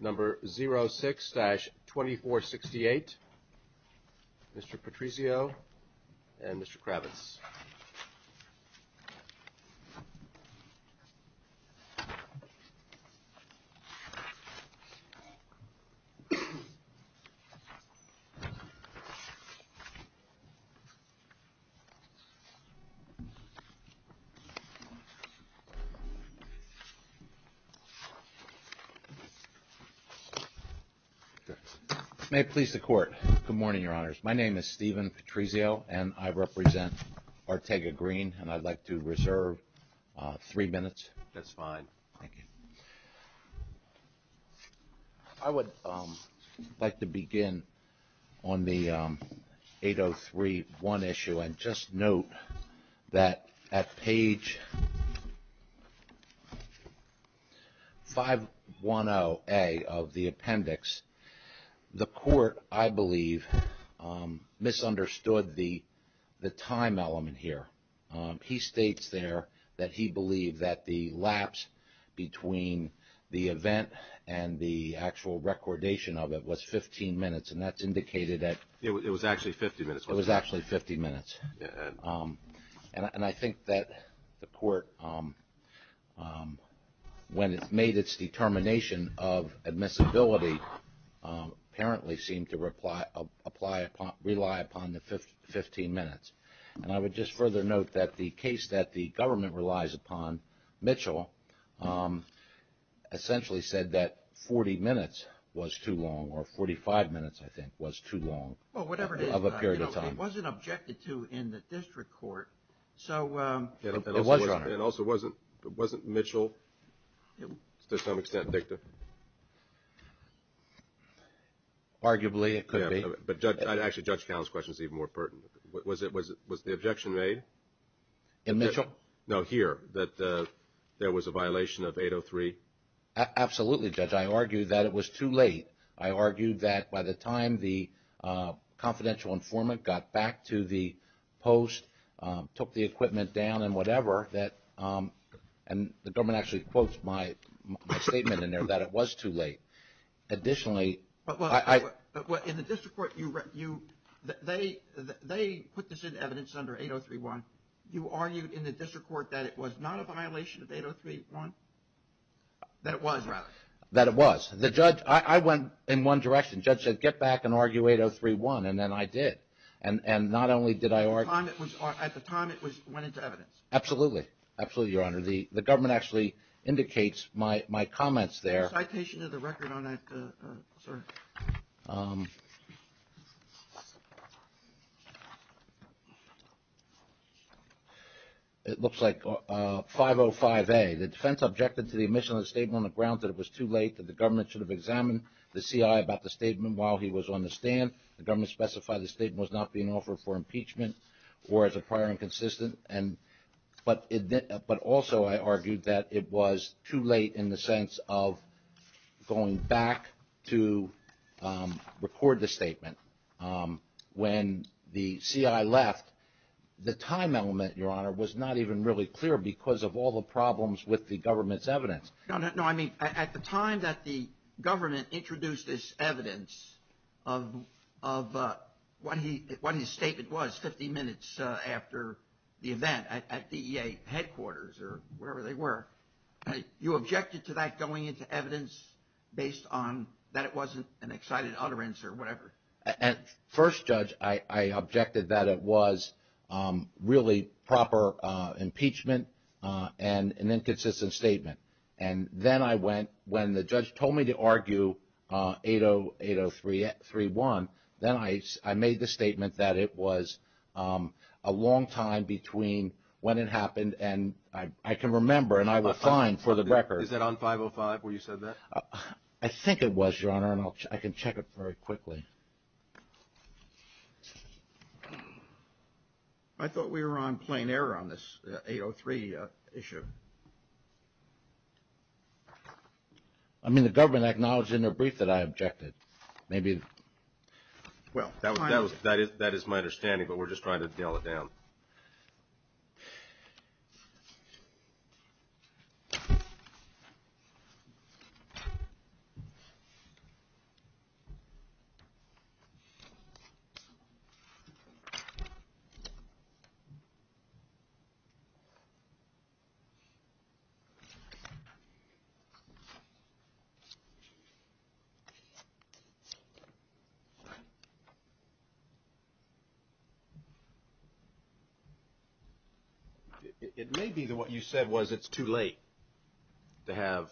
Number 06-2468. Mr. Patrizio and Mr. Kravitz. May it please the Court. Good morning, Your Honors. My name is Steven Patrizio and I represent Arteaga Green and I'd like to reserve three minutes. That's fine. Thank you. I would like to begin on the 803-1 issue and just note that at page 510A of the appendix, the Court, I believe, misunderstood the time element here. He states there that he believed that the lapse between the event and the actual recordation of it was 15 minutes and that's indicated that it was actually 50 minutes. It was actually 50 minutes. And I think that the Court, when it made its determination of admissibility, apparently seemed to rely upon the 15 minutes. And I would just further note that the case that the government relies upon, Mitchell, essentially said that 40 minutes was too long or 45 minutes, I think, was too long of a period of time. It wasn't objected to in the district court, so... It was, Your Honor. And also, wasn't Mitchell, to some extent, dicta? Arguably, it could be. But actually, Judge Cowell's question is even more pertinent. Was the objection made? In Mitchell? No, here, that there was a violation of 803? Absolutely, Judge. I argued that it was too late. I argued that by the time the confidential informant got back to the post, took the equipment down and whatever, that... And the government actually quotes my statement in there that it was too late. Additionally... Well, in the district court, you... They put this in evidence under 803-1. You argued in the district court that it was not a violation of 803-1? That it was, rather? That it was. The judge... I went in one direction. The judge said, get back and argue 803-1. And then I did. And not only did I argue... At the time, it went into evidence. Absolutely. Absolutely, Your Honor. The government actually indicates my comments there... Is there a violation of the record on that? Sorry. It looks like 505A. The defense objected to the omission of the statement on the ground that it was too late, that the government should have examined the CI about the statement while he was on the stand. The government specified the statement was not being offered for impeachment or as a prior inconsistent. But also, I argued that it was too late in the sense of going back to record the statement. When the CI left, the time element, Your Honor, was not even really clear because of all the problems with the government's evidence. No, I mean, at the time that the government introduced this evidence of what his statement was 50 minutes after the event at DEA headquarters or wherever they were, you objected to that going into evidence based on that it wasn't an excited utterance or whatever? At first, Judge, I objected that it was really proper impeachment and an inconsistent statement. And then I went... When the judge told me to argue 803-1, then I made the statement that it was a long time between when it happened and I can remember and I was fine for the record. Is that on 505 where you said that? I think it was, Your Honor, and I can check it very quickly. I thought we were on plain error on this 803 issue. I mean, the government acknowledged in their brief that I objected. Maybe... That is my understanding, but we're just trying to dial it down. It may be that what you said was it's too late to have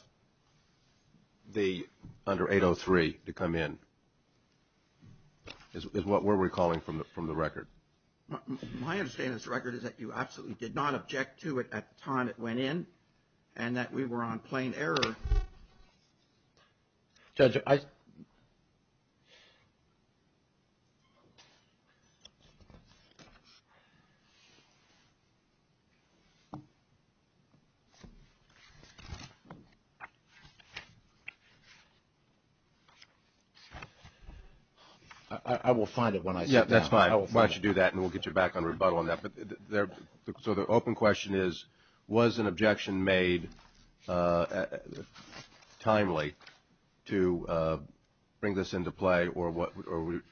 the under 803 to come in is what we're recalling from the record. My understanding of this record is that you absolutely did not object to it at the time it went in and that we were on plain error. Judge, I... I will find it when I see it. Yeah, that's fine. I will find it. We'll let you do that and we'll get you back on rebuttal on that. So the open question is, was an objection made timely to bring this into play or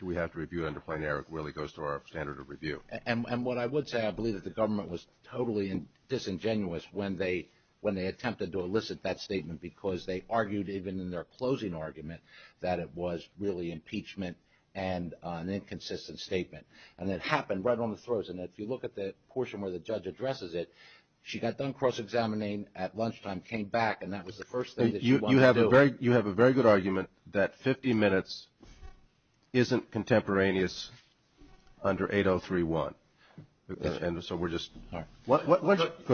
do we have to review it under plain error? It really goes to our standard of review. And what I would say, I believe that the government was totally disingenuous when they attempted to elicit that statement because they argued even in their closing argument that it was really impeachment and an inconsistent statement. And it happened right on the throes. And if you look at the portion where the judge addresses it, she got done cross-examining at lunchtime, came back, and that was the first thing that she wanted to do. You have a very good argument that 50 minutes isn't contemporaneous under 803.1. And so we're just... Go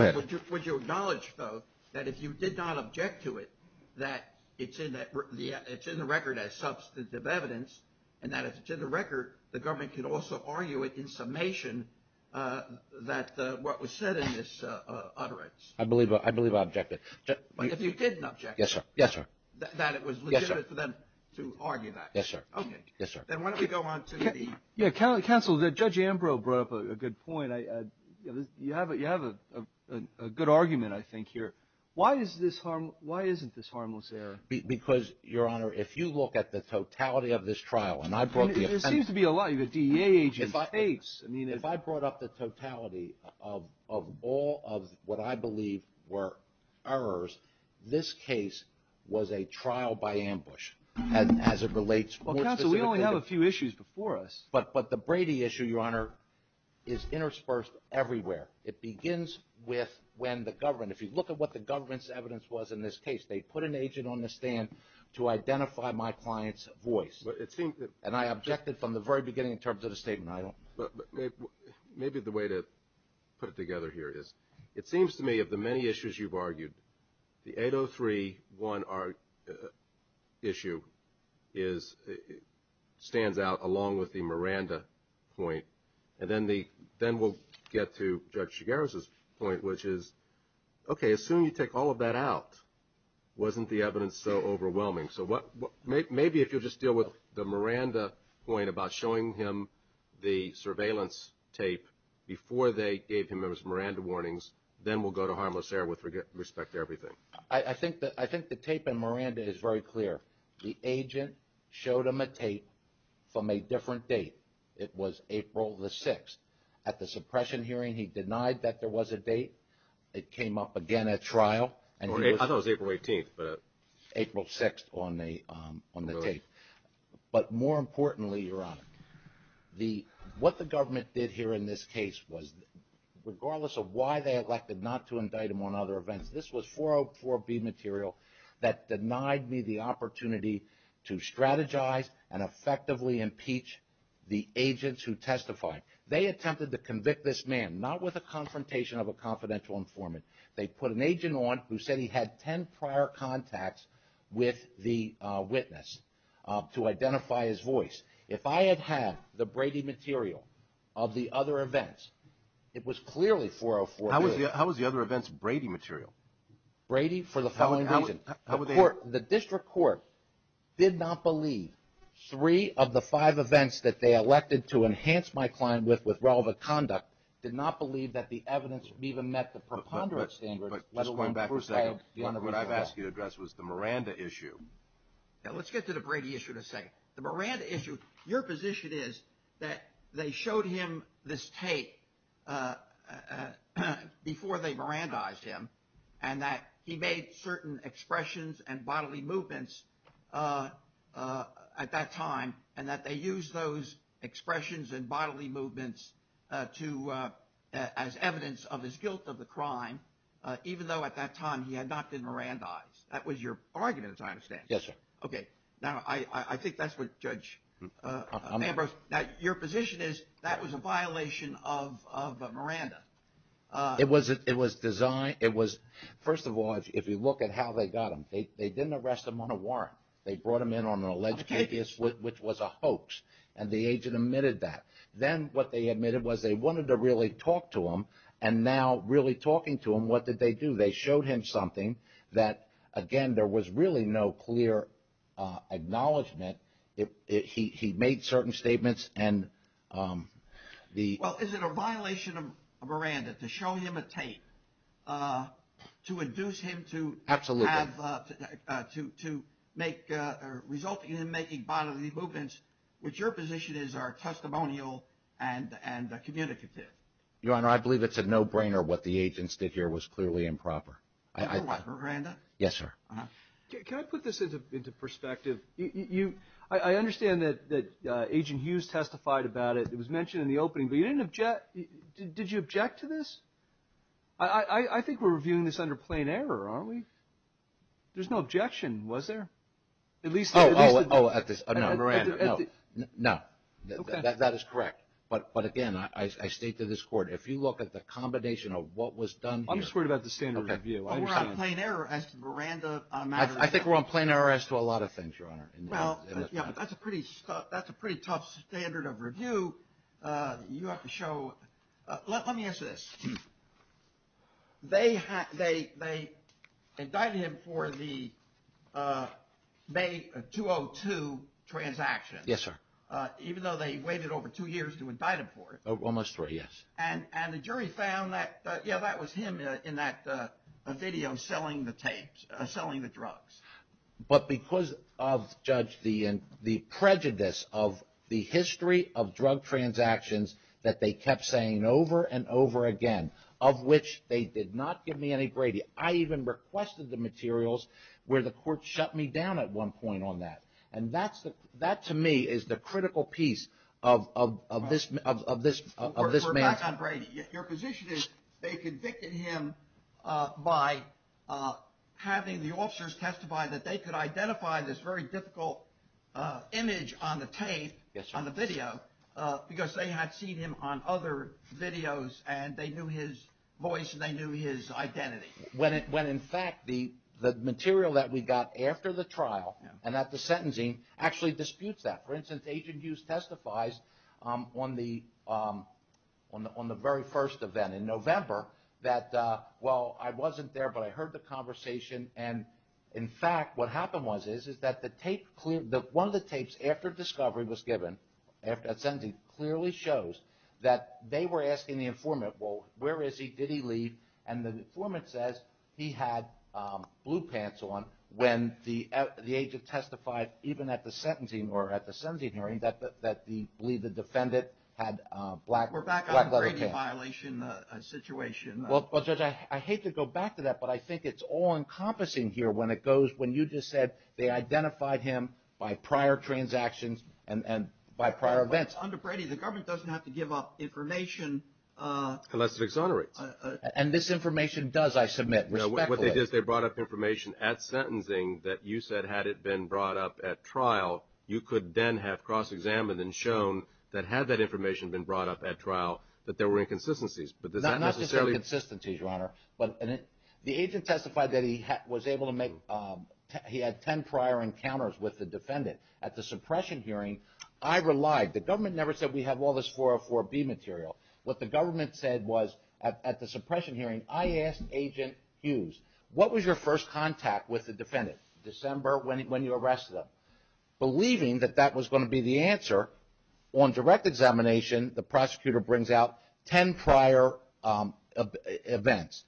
ahead. Would you acknowledge, though, that if you did not object to it, that it's in the record as substantive evidence and that if it's in the record, the government could also argue it in summation that what was said in this utterance? I believe I objected. But if you didn't object... Yes, sir. ...that it was legitimate for them to argue that? Yes, sir. Okay. Yes, sir. Then why don't we go on to the... Yeah, counsel, Judge Ambrose brought up a good point. You have a good argument, I think, here. Why isn't this harmless error? Because, Your Honor, if you look at the totality of this trial, and I brought the... There seems to be a lot. You've got DEA agents, fakes. If I brought up the totality of all of what I believe were errors, this case was a trial by ambush as it relates more specifically... Well, counsel, we only have a few issues before us. But the Brady issue, Your Honor, is interspersed everywhere. It begins with when the government, if you look at what the government's evidence was in this case, they put an agent on the stand to identify my client's voice. And I objected from the very beginning in terms of the statement. Maybe the way to put it together here is it seems to me of the many issues you've argued, the 803-1 issue stands out along with the Miranda point. And then we'll get to Judge Chigares' point, which is, okay, assume you take all of that out. Wasn't the evidence so overwhelming? So maybe if you'll just deal with the Miranda point about showing him the surveillance tape before they gave him those Miranda warnings, then we'll go to harmless error with respect to everything. I think the tape in Miranda is very clear. The agent showed him a tape from a different date. It was April the 6th. At the suppression hearing, he denied that there was a date. It came up again at trial. I thought it was April 18th. April 6th on the tape. But more importantly, Your Honor, what the government did here in this case was, regardless of why they elected not to indict him on other events, this was 404B material that denied me the opportunity to strategize and effectively impeach the agents who testified. They attempted to convict this man, not with a confrontation of a confidential informant. They put an agent on who said he had ten prior contacts with the witness to identify his voice. If I had had the Brady material of the other events, it was clearly 404B. How was the other events Brady material? Brady for the following reason. How were they? The district court did not believe three of the five events that they elected to enhance my client with, with relevant conduct, did not believe that the evidence even met the preponderance standards, let alone prevail. Just going back for a second, what I've asked you to address was the Miranda issue. Let's get to the Brady issue in a second. The Miranda issue, your position is that they showed him this tape before they Mirandized him and that he made certain expressions and bodily movements at that time and that they used those expressions and bodily movements as evidence of his guilt of the crime, even though at that time he had not been Mirandized. That was your argument, as I understand it. Yes, sir. Okay. Now, I think that's what Judge Ambrose... Now, your position is that was a violation of Miranda. It was designed... First of all, if you look at how they got him, they didn't arrest him on a warrant. They brought him in on an alleged case, which was a hoax, and the agent admitted that. Then what they admitted was they wanted to really talk to him, and now really talking to him, what did they do? They showed him something that, again, there was really no clear acknowledgement. He made certain statements and the... Well, is it a violation of Miranda to show him a tape to induce him to have... Absolutely. ...to result in him making bodily movements, which your position is are testimonial and communicative. Your Honor, I believe it's a no-brainer what the agents did here was clearly improper. Yes, sir. Can I put this into perspective? I understand that Agent Hughes testified about it. It was mentioned in the opening, but you didn't object... Did you object to this? I think we're reviewing this under plain error, aren't we? There's no objection, was there? At least... Oh, at this... No, Miranda, no. No. Okay. That is correct. But, again, I state to this Court, if you look at the combination of what was done here... I'm just worried about the standard of review. I understand. We're on plain error as to Miranda on matters... I think we're on plain error as to a lot of things, Your Honor. Well, that's a pretty tough standard of review. You have to show... Let me ask you this. They indicted him for the May 202 transaction. Yes, sir. Even though they waited over two years to indict him for it. Almost three, yes. And the jury found that... Yeah, that was him in that video selling the tapes, selling the drugs. But because of, Judge, the prejudice of the history of drug transactions that they kept saying over and over again, of which they did not give me any gradient, I even requested the materials where the Court shut me down at one point on that. And that, to me, is the critical piece of this man's... We're back on Brady. Your position is they convicted him by having the officers testify that they could identify this very difficult image on the tape, on the video, because they had seen him on other videos and they knew his voice and they knew his identity. When, in fact, the material that we got after the trial and at the sentencing actually disputes that. For instance, Agent Hughes testifies on the very first event in November that, well, I wasn't there, but I heard the conversation. And, in fact, what happened was that one of the tapes after discovery was given, after that sentencing, clearly shows that they were asking the informant, well, where is he, did he leave? And the informant says he had blue pants on when the agent testified, even at the sentencing or at the sentencing hearing, that he believed the defendant had black leather pants. We're back on the Brady violation situation. Well, Judge, I hate to go back to that, but I think it's all-encompassing here when it goes, when you just said they identified him by prior transactions and by prior events. Under Brady, the government doesn't have to give up information... Unless it exonerates. And this information does, I submit, respectfully. No, what they did is they brought up information at sentencing that you said had it been brought up at trial, you could then have cross-examined and shown that had that information been brought up at trial, that there were inconsistencies, but does that necessarily... Not necessarily inconsistencies, Your Honor, but the agent testified that he was able to make, he had ten prior encounters with the defendant. At the suppression hearing, I relied, the government never said we have all this 404B material. What the government said was, at the suppression hearing, I asked Agent Hughes, what was your first contact with the defendant, December, when you arrested him? Believing that that was going to be the answer, on direct examination, the prosecutor brings out ten prior events.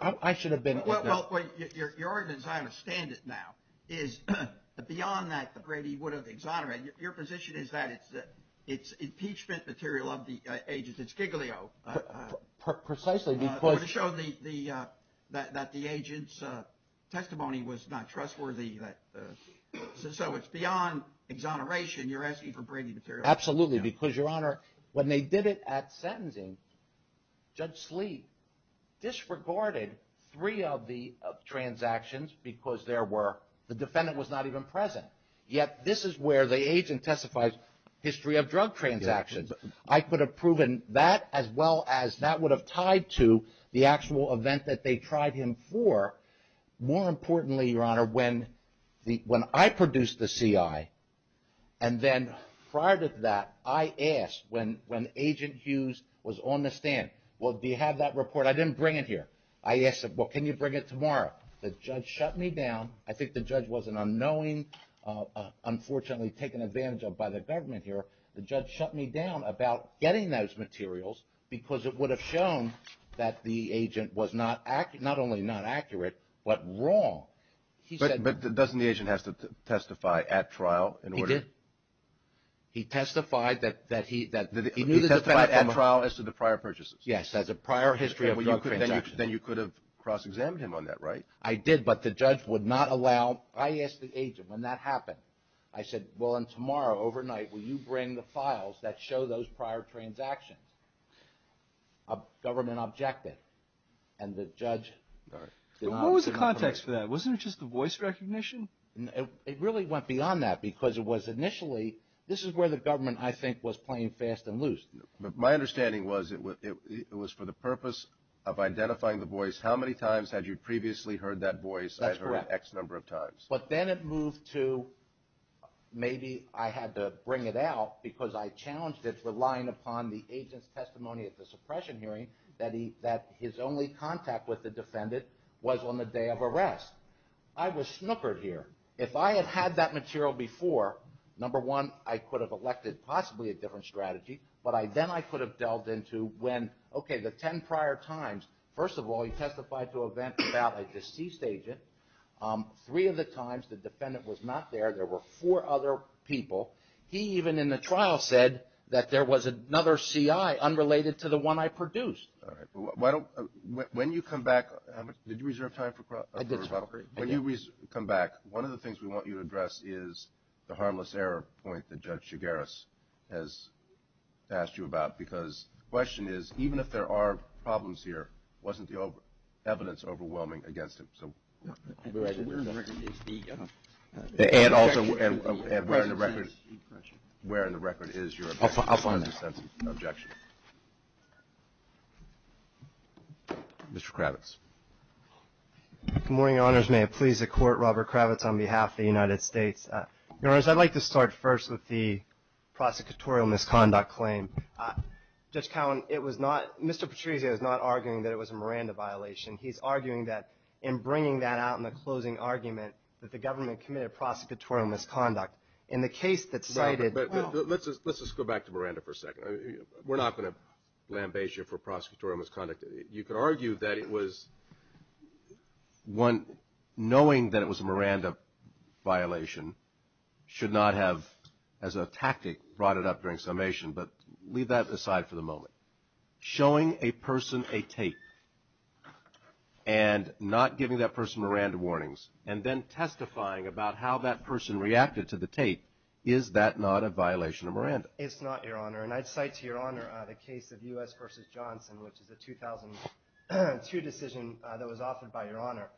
I should have been... Well, Your Honor, as I understand it now, is beyond that that Brady would have exonerated, Your position is that it's impeachment material of the agent, it's Giglio. Precisely because... It would have shown that the agent's testimony was not trustworthy, so it's beyond exoneration, you're asking for Brady material. Absolutely, because, Your Honor, when they did it at sentencing, Judge Slee disregarded three of the transactions because the defendant was not even present. Yet, this is where the agent testifies history of drug transactions. I could have proven that as well as that would have tied to the actual event that they tried him for. More importantly, Your Honor, when I produced the CI, and then prior to that, I asked when Agent Hughes was on the stand, well, do you have that report? I didn't bring it here. I asked him, well, can you bring it tomorrow? The judge shut me down. I think the judge was an unknowing, unfortunately taken advantage of by the government here. The judge shut me down about getting those materials because it would have shown that the agent was not only not accurate, but wrong. But doesn't the agent have to testify at trial in order... He did. He testified that he... He testified at trial as to the prior purchases. Yes, as a prior history of drug transactions. Then you could have cross-examined him on that, right? I did, but the judge would not allow... I asked the agent when that happened. I said, well, and tomorrow overnight, will you bring the files that show those prior transactions? A government objected, and the judge... What was the context for that? Wasn't it just the voice recognition? It really went beyond that because it was initially... This is where the government, I think, was playing fast and loose. My understanding was it was for the purpose of identifying the voice. How many times had you previously heard that voice? I've heard it X number of times. But then it moved to maybe I had to bring it out because I challenged it relying upon the agent's testimony at the suppression hearing that his only contact with the defendant was on the day of arrest. I was snookered here. If I had had that material before, number one, I could have elected possibly a different strategy, but then I could have delved into when, okay, the ten prior times. First of all, he testified to an event about a deceased agent. Three of the times the defendant was not there, there were four other people. He even in the trial said that there was another CI unrelated to the one I produced. All right. When you come back... Did you reserve time for... I did. When you come back, one of the things we want you to address is the harmless error point that Judge Chigaris has asked you about because the question is even if there are problems here, wasn't the evidence overwhelming against him? And also, where in the record is your sense of objection? Mr. Kravitz. Good morning, Your Honors. May it please the Court, Robert Kravitz on behalf of the United States. Your Honors, I'd like to start first with the prosecutorial misconduct claim. Judge Cowen, it was not Mr. Patrizio is not arguing that it was a Miranda violation. He's arguing that in bringing that out in the closing argument that the government committed prosecutorial misconduct. In the case that cited... Let's just go back to Miranda for a second. We're not going to lambaste you for prosecutorial misconduct. You could argue that it was one, knowing that it was a Miranda violation, should not have, as a tactic, brought it up during summation. But leave that aside for the moment. Showing a person a tape and not giving that person Miranda warnings and then testifying about how that person reacted to the tape, is that not a violation of Miranda? It's not, Your Honor. And I'd cite to Your Honor the case of U.S. v. Johnson, which is a 2002 decision that was offered by Your Honor.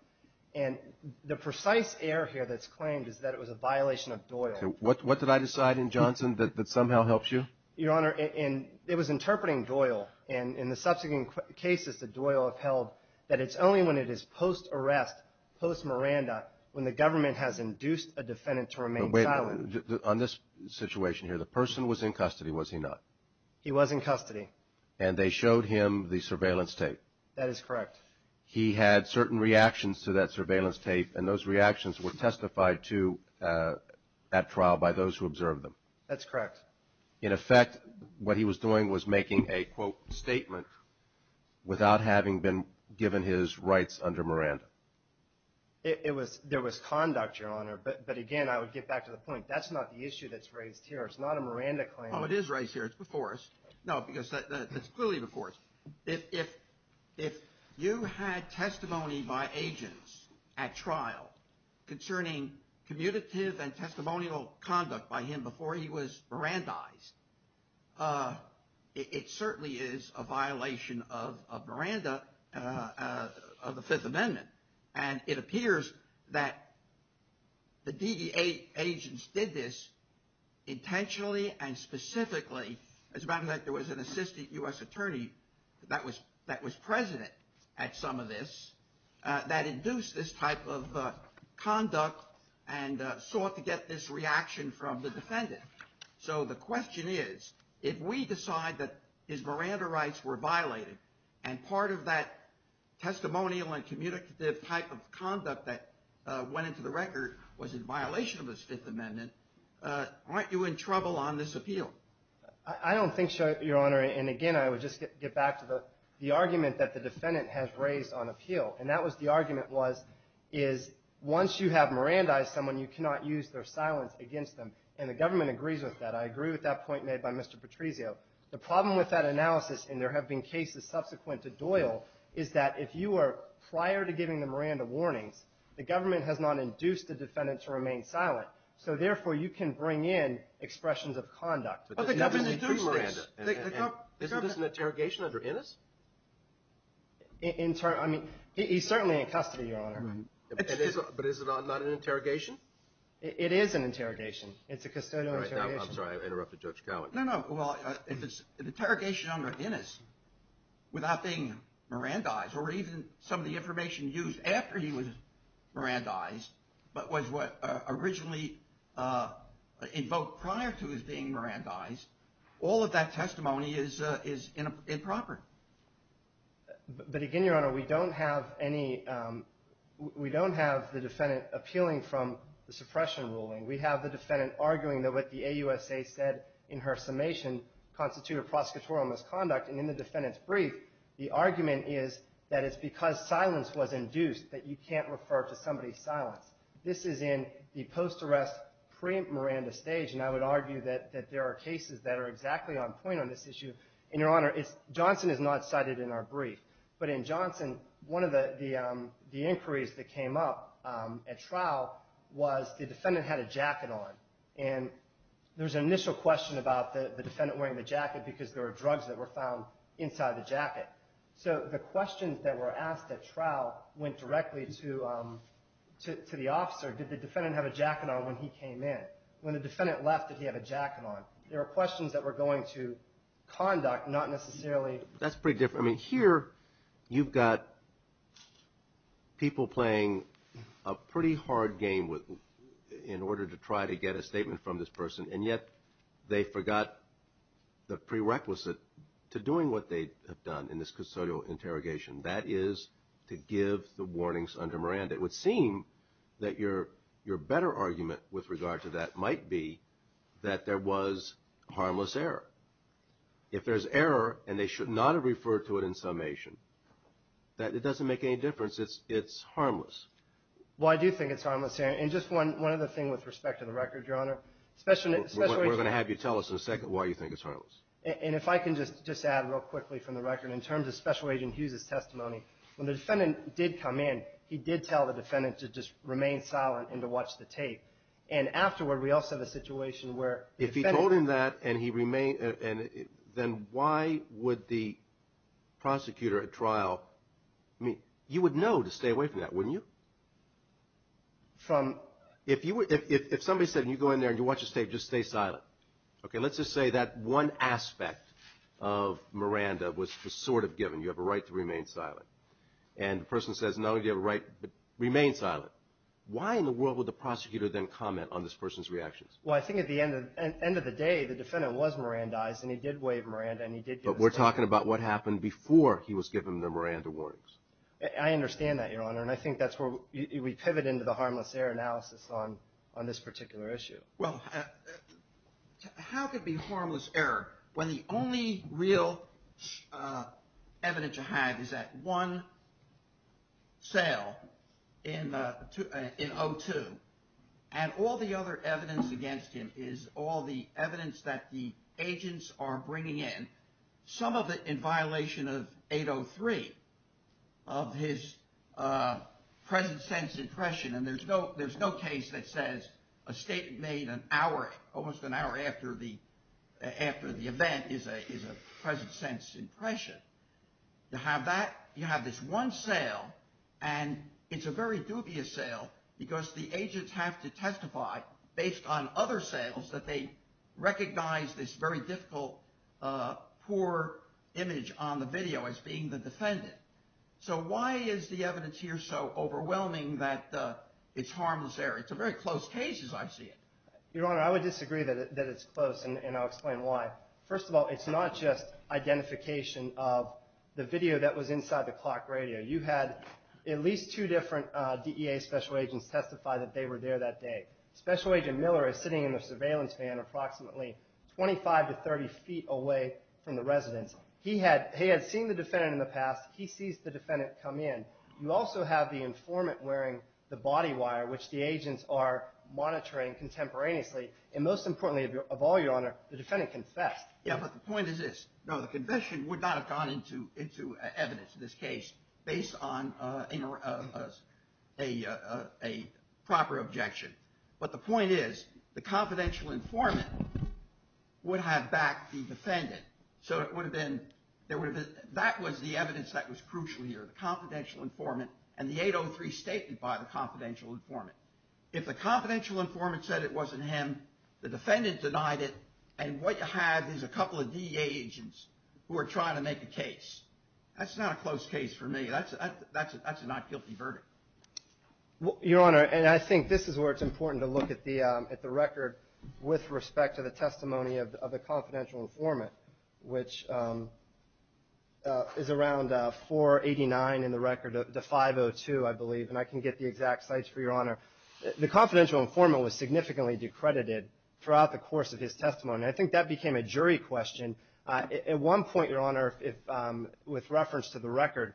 And the precise error here that's claimed is that it was a violation of Doyle. What did I decide in Johnson that somehow helps you? Your Honor, it was interpreting Doyle. And in the subsequent cases that Doyle upheld, that it's only when it is post-arrest, post-Miranda, when the government has induced a defendant to remain silent. On this situation here, the person was in custody, was he not? He was in custody. And they showed him the surveillance tape. That is correct. He had certain reactions to that surveillance tape, and those reactions were testified to at trial by those who observed them. That's correct. In effect, what he was doing was making a, quote, statement without having been given his rights under Miranda. There was conduct, Your Honor. But, again, I would get back to the point. That's not the issue that's raised here. It's not a Miranda claim. Oh, it is raised here. It's before us. No, because it's clearly before us. If you had testimony by agents at trial concerning commutative and testimonial conduct by him before he was Mirandized, it certainly is a violation of Miranda of the Fifth Amendment. And it appears that the DEA agents did this intentionally and specifically. As a matter of fact, there was an assistant U.S. attorney that was present at some of this that induced this type of conduct and sought to get this reaction from the defendant. So the question is, if we decide that his Miranda rights were violated and part of that testimonial and commutative type of conduct that went into the record was in violation of his Fifth Amendment, aren't you in trouble on this appeal? I don't think so, Your Honor. And, again, I would just get back to the argument that the defendant has raised on appeal. And that was the argument was, is once you have Mirandized someone, you cannot use their silence against them. And the government agrees with that. I agree with that point made by Mr. Patrizio. The problem with that analysis, and there have been cases subsequent to Doyle, is that if you are prior to giving the Miranda warnings, the government has not induced the defendant to remain silent. So, therefore, you can bring in expressions of conduct. But the government is doing Miranda. Isn't this an interrogation under Ennis? I mean, he's certainly in custody, Your Honor. But is it not an interrogation? It is an interrogation. It's a custodial interrogation. I'm sorry. I interrupted Judge Cowan. No, no. Well, if it's an interrogation under Ennis without being Mirandized or even some of the information used after he was Mirandized but was what originally invoked prior to his being Mirandized, all of that testimony is improper. But, again, Your Honor, we don't have any – we don't have the defendant appealing from the suppression ruling. We have the defendant arguing that what the AUSA said in her summation constituted prosecutorial misconduct. And in the defendant's brief, the argument is that it's because silence was induced that you can't refer to somebody's silence. This is in the post-arrest pre-Miranda stage, and I would argue that there are cases that are exactly on point on this issue. And, Your Honor, Johnson is not cited in our brief. But in Johnson, one of the inquiries that came up at trial was the defendant had a jacket on. And there was an initial question about the defendant wearing the jacket because there were drugs that were found inside the jacket. So the questions that were asked at trial went directly to the officer. Did the defendant have a jacket on when he came in? When the defendant left, did he have a jacket on? There were questions that were going to conduct, not necessarily – That's pretty different. I mean, here you've got people playing a pretty hard game in order to try to get a statement from this person, and yet they forgot the prerequisite to doing what they have done in this custodial interrogation. That is to give the warnings under Miranda. It would seem that your better argument with regard to that might be that there was harmless error. If there's error, and they should not have referred to it in summation, it doesn't make any difference. It's harmless. Well, I do think it's harmless. And just one other thing with respect to the record, Your Honor. We're going to have you tell us in a second why you think it's harmless. And if I can just add real quickly from the record, in terms of Special Agent Hughes' testimony, when the defendant did come in, he did tell the defendant to just remain silent and to watch the tape. And afterward, we also have a situation where the defendant – then why would the prosecutor at trial – I mean, you would know to stay away from that, wouldn't you? If somebody said, you go in there and you watch the tape, just stay silent. Okay, let's just say that one aspect of Miranda was sort of given. You have a right to remain silent. And the person says, no, you have a right to remain silent. Why in the world would the prosecutor then comment on this person's reactions? Well, I think at the end of the day, the defendant was Mirandized, and he did wave Miranda, and he did give us a warning. But we're talking about what happened before he was given the Miranda warnings. I understand that, Your Honor. And I think that's where we pivot into the harmless error analysis on this particular issue. Well, how could it be harmless error when the only real evidence you have is that one cell in O2 and all the other evidence against him is all the evidence that the agents are bringing in, some of it in violation of 803 of his present sense impression. And there's no case that says a statement made an hour – almost an hour after the event is a present sense impression. You have this one cell, and it's a very dubious cell because the agents have to testify based on other cells that they recognize this very difficult, poor image on the video as being the defendant. So why is the evidence here so overwhelming that it's harmless error? It's a very close case, as I see it. Your Honor, I would disagree that it's close, and I'll explain why. First of all, it's not just identification of the video that was inside the clock radio. You had at least two different DEA special agents testify that they were there that day. Special Agent Miller is sitting in the surveillance van approximately 25 to 30 feet away from the residence. He had seen the defendant in the past. He sees the defendant come in. You also have the informant wearing the body wire, which the agents are monitoring contemporaneously. And most importantly of all, Your Honor, the defendant confessed. Yeah, but the point is this. No, the confession would not have gone into evidence in this case based on a proper objection. But the point is the confidential informant would have backed the defendant. So that was the evidence that was crucial here, the confidential informant and the 803 statement by the confidential informant. If the confidential informant said it wasn't him, the defendant denied it, and what you have is a couple of DEA agents who are trying to make a case. That's not a close case for me. That's a not guilty verdict. Your Honor, and I think this is where it's important to look at the record with respect to the testimony of the confidential informant, which is around 489 in the record to 502, I believe, and I can get the exact sites for Your Honor. The confidential informant was significantly decredited throughout the course of his testimony, and I think that became a jury question. At one point, Your Honor, with reference to the record,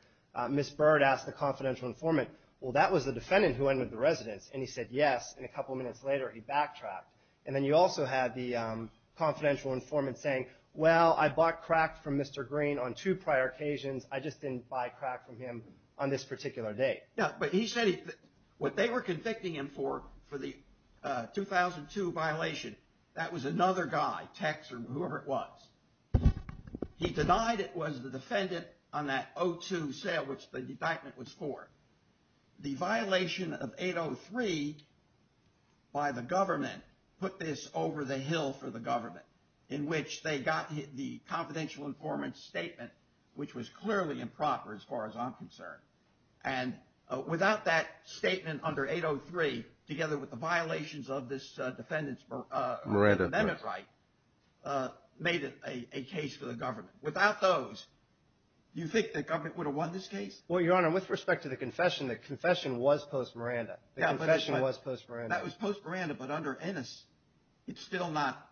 Ms. Bird asked the confidential informant, well, that was the defendant who entered the residence, and he said yes, and a couple of minutes later he backtracked. And then you also had the confidential informant saying, well, I bought crack from Mr. Green on two prior occasions. I just didn't buy crack from him on this particular date. But he said what they were convicting him for, for the 2002 violation, that was another guy, Tex or whoever it was. He denied it was the defendant on that 02 sale, which the indictment was for. The violation of 803 by the government put this over the hill for the government, in which they got the confidential informant's statement, which was clearly improper as far as I'm concerned. And without that statement under 803, together with the violations of this defendant's amendment right, made it a case for the government. Without those, do you think the government would have won this case? Well, Your Honor, with respect to the confession, the confession was post-Miranda. The confession was post-Miranda. That was post-Miranda, but under Ennis it's still not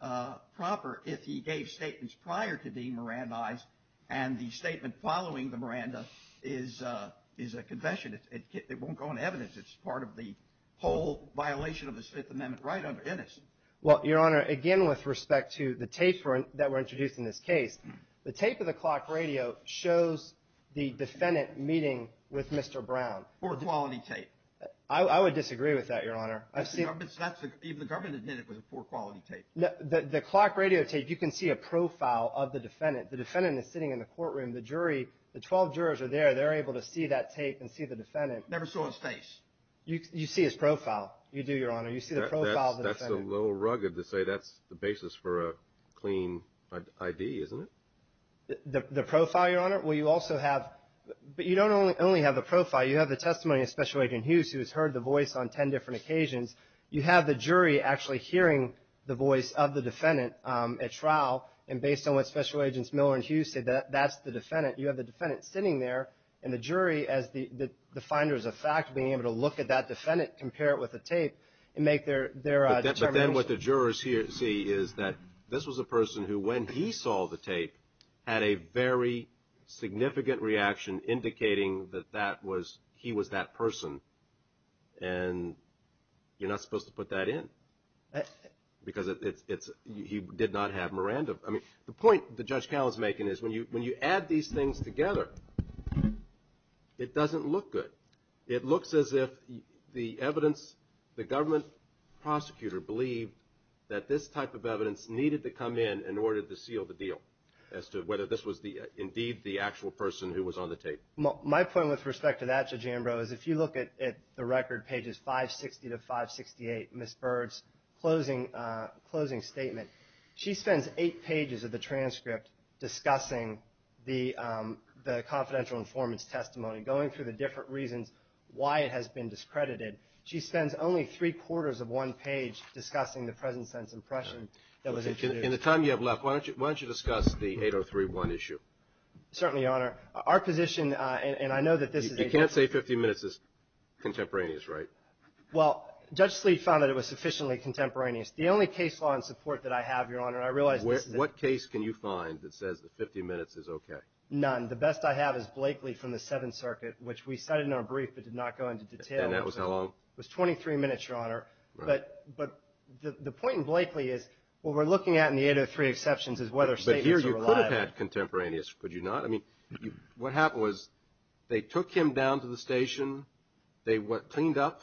proper if he gave statements prior to being Mirandized, and the statement following the Miranda is a confession. It won't go into evidence. It's part of the whole violation of this Fifth Amendment right under Ennis. Well, Your Honor, again, with respect to the tape that were introduced in this case, the tape of the clock radio shows the defendant meeting with Mr. Brown. Poor quality tape. I would disagree with that, Your Honor. Even the government admitted it was a poor quality tape. The clock radio tape, you can see a profile of the defendant. The defendant is sitting in the courtroom. The jury, the 12 jurors are there. They're able to see that tape and see the defendant. Never saw his face. You see his profile. You do, Your Honor. You see the profile of the defendant. That's a little rugged to say that's the basis for a clean ID, isn't it? The profile, Your Honor? Well, you also have, but you don't only have the profile. You have the testimony of Special Agent Hughes who has heard the voice on 10 different occasions. You have the jury actually hearing the voice of the defendant at trial, and based on what Special Agents Miller and Hughes said, that's the defendant. You have the defendant sitting there, and the jury, as the finders of fact, being able to look at that defendant, compare it with the tape, and make their determination. But then what the jurors see is that this was a person who, when he saw the tape, had a very significant reaction indicating that he was that person. And you're not supposed to put that in. Because he did not have Miranda. I mean, the point that Judge Callan's making is when you add these things together, it doesn't look good. It looks as if the evidence, the government prosecutor believed that this type of evidence needed to come in in order to seal the deal as to whether this was indeed the actual person who was on the tape. My point with respect to that, Judge Ambrose, if you look at the record, pages 560 to 568, Ms. Bird's closing statement, she spends eight pages of the transcript discussing the confidential informant's testimony, going through the different reasons why it has been discredited. She spends only three-quarters of one page discussing the present sense impression that was introduced. In the time you have left, why don't you discuss the 8031 issue? Certainly, Your Honor. Our position, and I know that this is a- You can't say 50 minutes is contemporaneous, right? Well, Judge Sleet found that it was sufficiently contemporaneous. The only case law and support that I have, Your Honor, and I realize this is a- What case can you find that says that 50 minutes is okay? None. The best I have is Blakely from the Seventh Circuit, which we cited in our brief but did not go into detail. And that was how long? It was 23 minutes, Your Honor. Here you could have had contemporaneous, could you not? I mean, what happened was they took him down to the station, they cleaned up-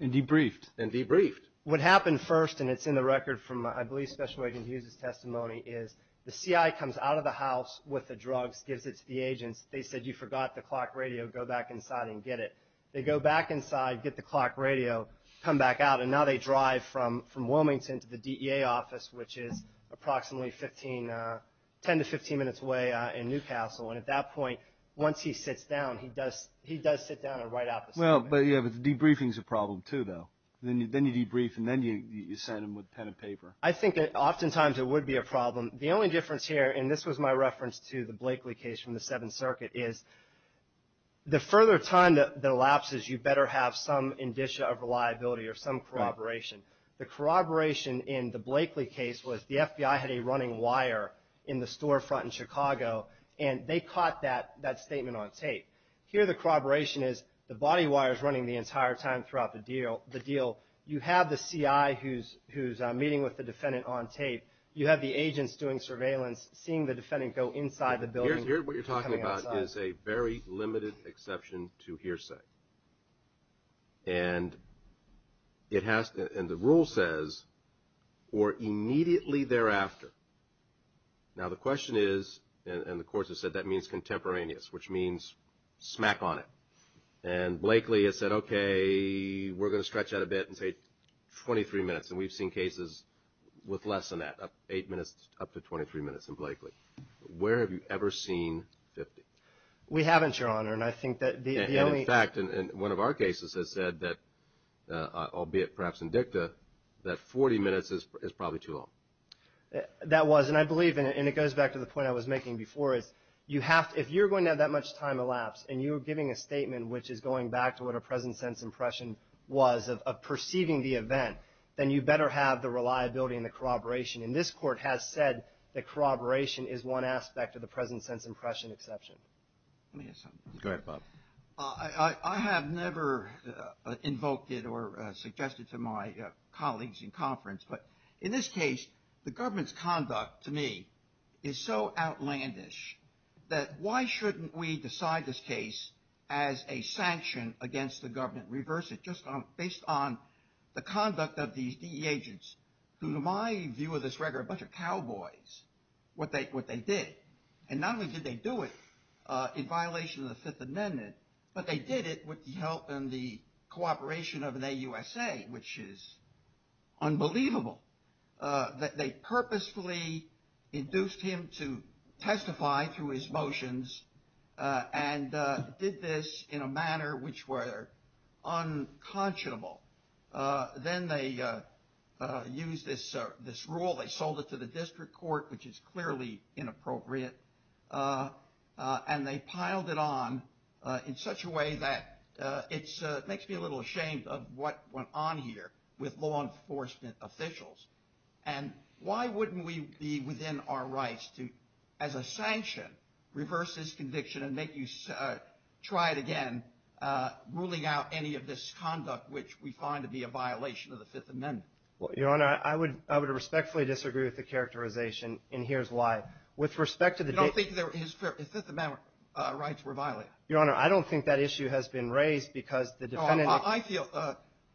And debriefed. And debriefed. What happened first, and it's in the record from I believe Special Agent Hughes' testimony, is the CI comes out of the house with the drugs, gives it to the agents. They said, you forgot the clock radio. Go back inside and get it. They go back inside, get the clock radio, come back out, and now they drive from Wilmington to the DEA office, which is approximately 10 to 15 minutes away in Newcastle. And at that point, once he sits down, he does sit down and write out the statement. Well, yeah, but the debriefing is a problem too, though. Then you debrief and then you send him with a pen and paper. I think oftentimes it would be a problem. The only difference here, and this was my reference to the Blakely case from the Seventh Circuit, is the further time that elapses, you better have some indicia of reliability or some corroboration. The corroboration in the Blakely case was the FBI had a running wire in the storefront in Chicago, and they caught that statement on tape. Here the corroboration is the body wire is running the entire time throughout the deal. You have the CI who's meeting with the defendant on tape. You have the agents doing surveillance, seeing the defendant go inside the building. What you're talking about is a very limited exception to hearsay. And the rule says, or immediately thereafter. Now the question is, and the court has said that means contemporaneous, which means smack on it. And Blakely has said, okay, we're going to stretch that a bit and say 23 minutes. And we've seen cases with less than that, 8 minutes up to 23 minutes in Blakely. Where have you ever seen 50? We haven't, Your Honor, and I think that the only. In fact, one of our cases has said that, albeit perhaps in dicta, that 40 minutes is probably too long. That was, and I believe, and it goes back to the point I was making before, is you have to, if you're going to have that much time elapsed, and you're giving a statement which is going back to what a present sense impression was of perceiving the event, then you better have the reliability and the corroboration. And this court has said that corroboration is one aspect of the present sense impression exception. Let me ask something. Go ahead, Bob. I have never invoked it or suggested to my colleagues in conference, but in this case the government's conduct to me is so outlandish that why shouldn't we decide this case as a sanction against the government, reverse it, just based on the conduct of these DE agents, who to my view of this record are a bunch of cowboys, what they did. And not only did they do it in violation of the Fifth Amendment, but they did it with the help and the cooperation of an AUSA, which is unbelievable. They purposefully induced him to testify through his motions and did this in a manner which were unconscionable. Then they used this rule, they sold it to the district court, which is clearly inappropriate, and they piled it on in such a way that it makes me a little ashamed of what went on here with law enforcement officials. And why wouldn't we be within our rights to, as a sanction, reverse this conviction and make you try it again, ruling out any of this conduct which we find to be a violation of the Fifth Amendment? Well, Your Honor, I would respectfully disagree with the characterization, and here's why. With respect to the- You don't think his Fifth Amendment rights were violated? Your Honor, I don't think that issue has been raised because the defendant-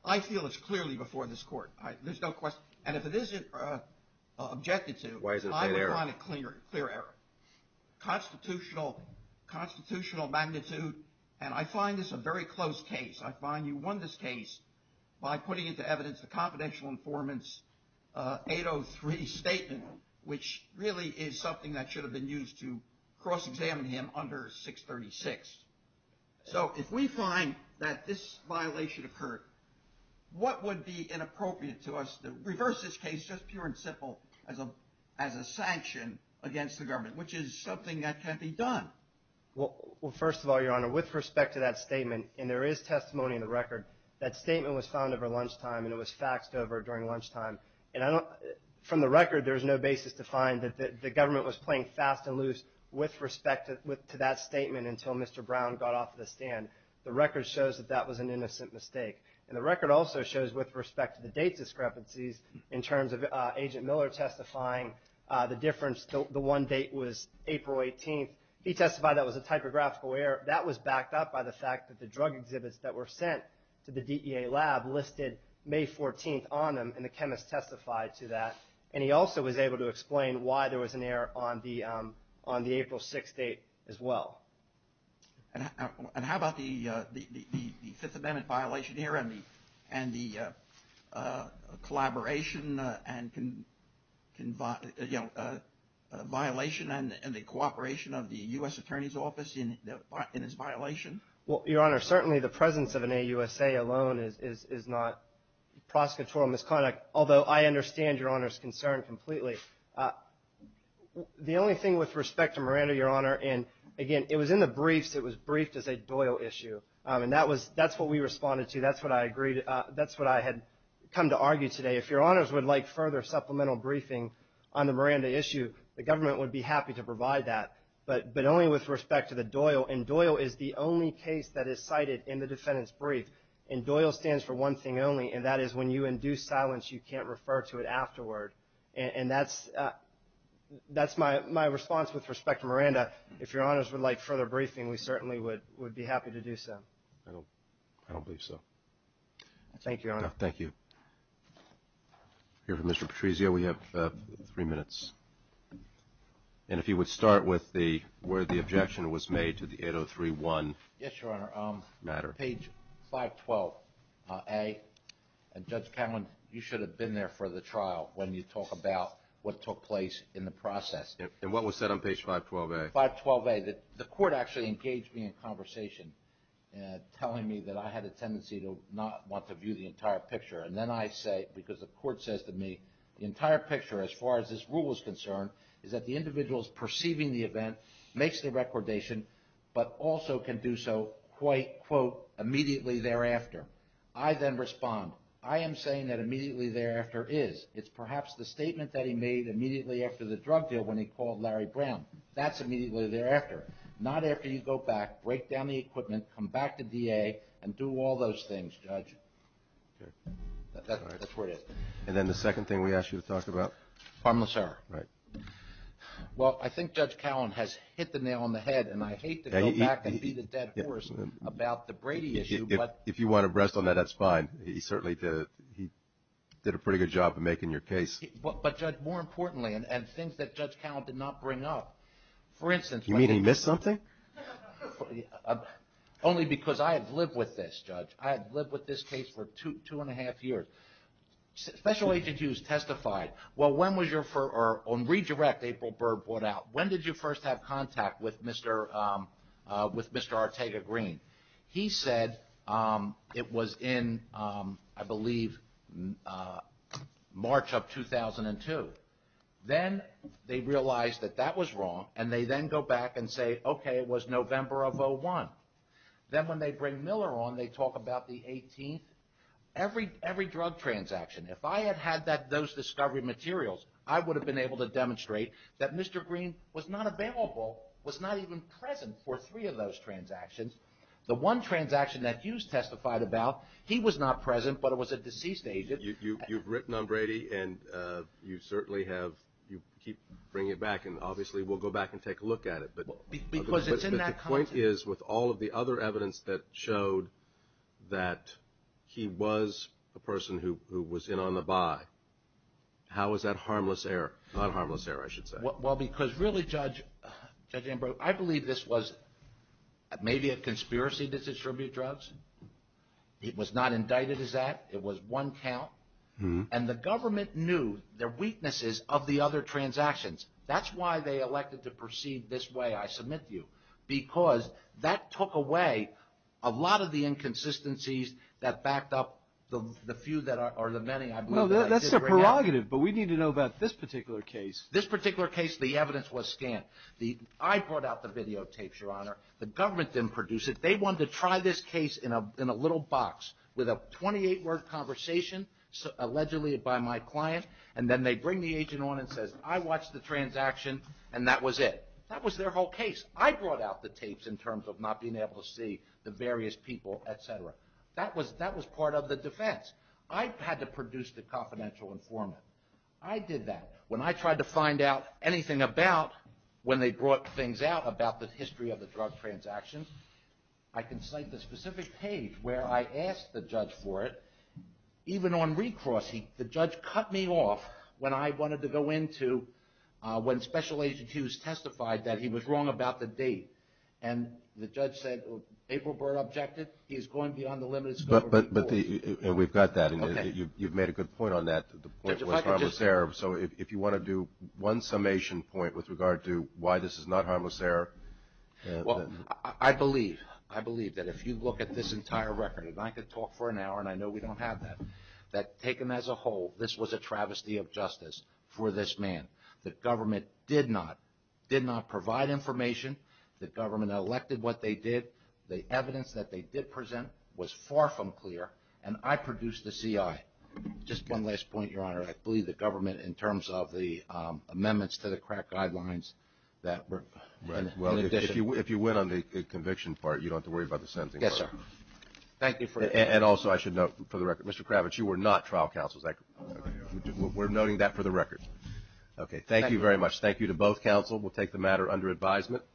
I feel it's clearly before this court. There's no question. And if it isn't objected to- Why is it a clear error? I would want a clear error. Constitutional magnitude, and I find this a very close case. I find you won this case by putting into evidence the confidential informant's 803 statement, which really is something that should have been used to cross-examine him under 636. So if we find that this violation occurred, what would be inappropriate to us to reverse this case, just pure and simple, as a sanction against the government, which is something that can't be done? Well, first of all, Your Honor, with respect to that statement, and there is testimony in the record, that statement was found over lunchtime and it was faxed over during lunchtime. From the record, there is no basis to find that the government was playing fast and loose with respect to that statement until Mr. Brown got off the stand. The record shows that that was an innocent mistake. And the record also shows, with respect to the date discrepancies, in terms of Agent Miller testifying, the difference, the one date was April 18th. He testified that was a typographical error. That was backed up by the fact that the drug exhibits that were sent to the DEA lab listed May 14th on them, and the chemist testified to that. And he also was able to explain why there was an error on the April 6th date as well. And how about the Fifth Amendment violation here and the collaboration and, you know, violation and the cooperation of the U.S. Attorney's Office in this violation? Well, Your Honor, certainly the presence of an AUSA alone is not prosecutorial misconduct, although I understand Your Honor's concern completely. The only thing with respect to Miranda, Your Honor, and, again, it was in the briefs. It was briefed as a Doyle issue. And that's what we responded to. That's what I had come to argue today. If Your Honors would like further supplemental briefing on the Miranda issue, the government would be happy to provide that, but only with respect to the Doyle. And Doyle is the only case that is cited in the defendant's brief. And Doyle stands for one thing only, and that is when you induce silence, you can't refer to it afterward. And that's my response with respect to Miranda. If Your Honors would like further briefing, we certainly would be happy to do so. I don't believe so. Thank you, Your Honor. Thank you. We have Mr. Patrizio. We have three minutes. And if he would start with where the objection was made to the 8031 matter. Yes, Your Honor. On page 512A. And, Judge Cowen, you should have been there for the trial when you talk about what took place in the process. And what was said on page 512A? 512A. The court actually engaged me in conversation, telling me that I had a tendency to not want to view the entire picture. And then I say, because the court says to me, the entire picture, as far as this rule is concerned, is that the individual is perceiving the event, makes the recordation, but also can do so, quote, immediately thereafter. I then respond, I am saying that immediately thereafter is. It's perhaps the statement that he made immediately after the drug deal when he called Larry Brown. That's immediately thereafter. Not after you go back, break down the equipment, come back to DA, and do all those things, Judge. That's where it is. And then the second thing we asked you to talk about? Farmless error. Right. Well, I think Judge Cowen has hit the nail on the head, and I hate to go back and beat a dead horse about the Brady issue, but. If you want to rest on that, that's fine. He certainly did a pretty good job of making your case. But, Judge, more importantly, and things that Judge Cowen did not bring up. For instance. You mean he missed something? Only because I have lived with this, Judge. I have lived with this case for two and a half years. Special Agent Hughes testified. Well, when was your, or on redirect, April Bird brought out. When did you first have contact with Mr. Ortega Green? He said it was in, I believe, March of 2002. Then they realized that that was wrong, and they then go back and say, okay, it was November of 01. Then when they bring Miller on, they talk about the 18th. Every drug transaction. If I had had those discovery materials, I would have been able to demonstrate that Mr. Green was not available, was not even present for three of those transactions. The one transaction that Hughes testified about, he was not present, but it was a deceased agent. You've written on Brady, and you certainly have, you keep bringing it back, and obviously we'll go back and take a look at it. Because it's in that context. My point is, with all of the other evidence that showed that he was the person who was in on the buy, how is that harmless error? Not harmless error, I should say. Well, because really, Judge Ambrose, I believe this was maybe a conspiracy to distribute drugs. It was not indicted as that. It was one count, and the government knew their weaknesses of the other transactions. That's why they elected to proceed this way, I submit to you. Because that took away a lot of the inconsistencies that backed up the few, or the many, I believe. No, that's their prerogative, but we need to know about this particular case. This particular case, the evidence was scant. I brought out the videotapes, Your Honor. The government didn't produce it. They wanted to try this case in a little box with a 28-word conversation, allegedly by my client. And then they bring the agent on and says, I watched the transaction, and that was it. That was their whole case. I brought out the tapes in terms of not being able to see the various people, et cetera. That was part of the defense. I had to produce the confidential informant. I did that. When I tried to find out anything about when they brought things out about the history of the drug transactions, I can cite the specific page where I asked the judge for it. Even on recrossing, the judge cut me off when I wanted to go into, when Special Agent Hughes testified that he was wrong about the date. And the judge said, April Byrd objected. He is going beyond the limits. But we've got that, and you've made a good point on that, the point was harmless error. So if you want to do one summation point with regard to why this is not harmless error. Well, I believe, I believe that if you look at this entire record, and I could talk for an hour and I know we don't have that, that taken as a whole, this was a travesty of justice for this man. The government did not provide information. The government elected what they did. The evidence that they did present was far from clear, and I produced the CI. Just one last point, Your Honor. I believe the government in terms of the amendments to the crack guidelines that were in addition. Well, if you win on the conviction part, you don't have to worry about the sentencing part. Yes, sir. Thank you for that. And also I should note for the record, Mr. Kravitz, you were not trial counsel. We're noting that for the record. Okay. Thank you very much. Thank you to both counsel. We'll take the matter under advisement.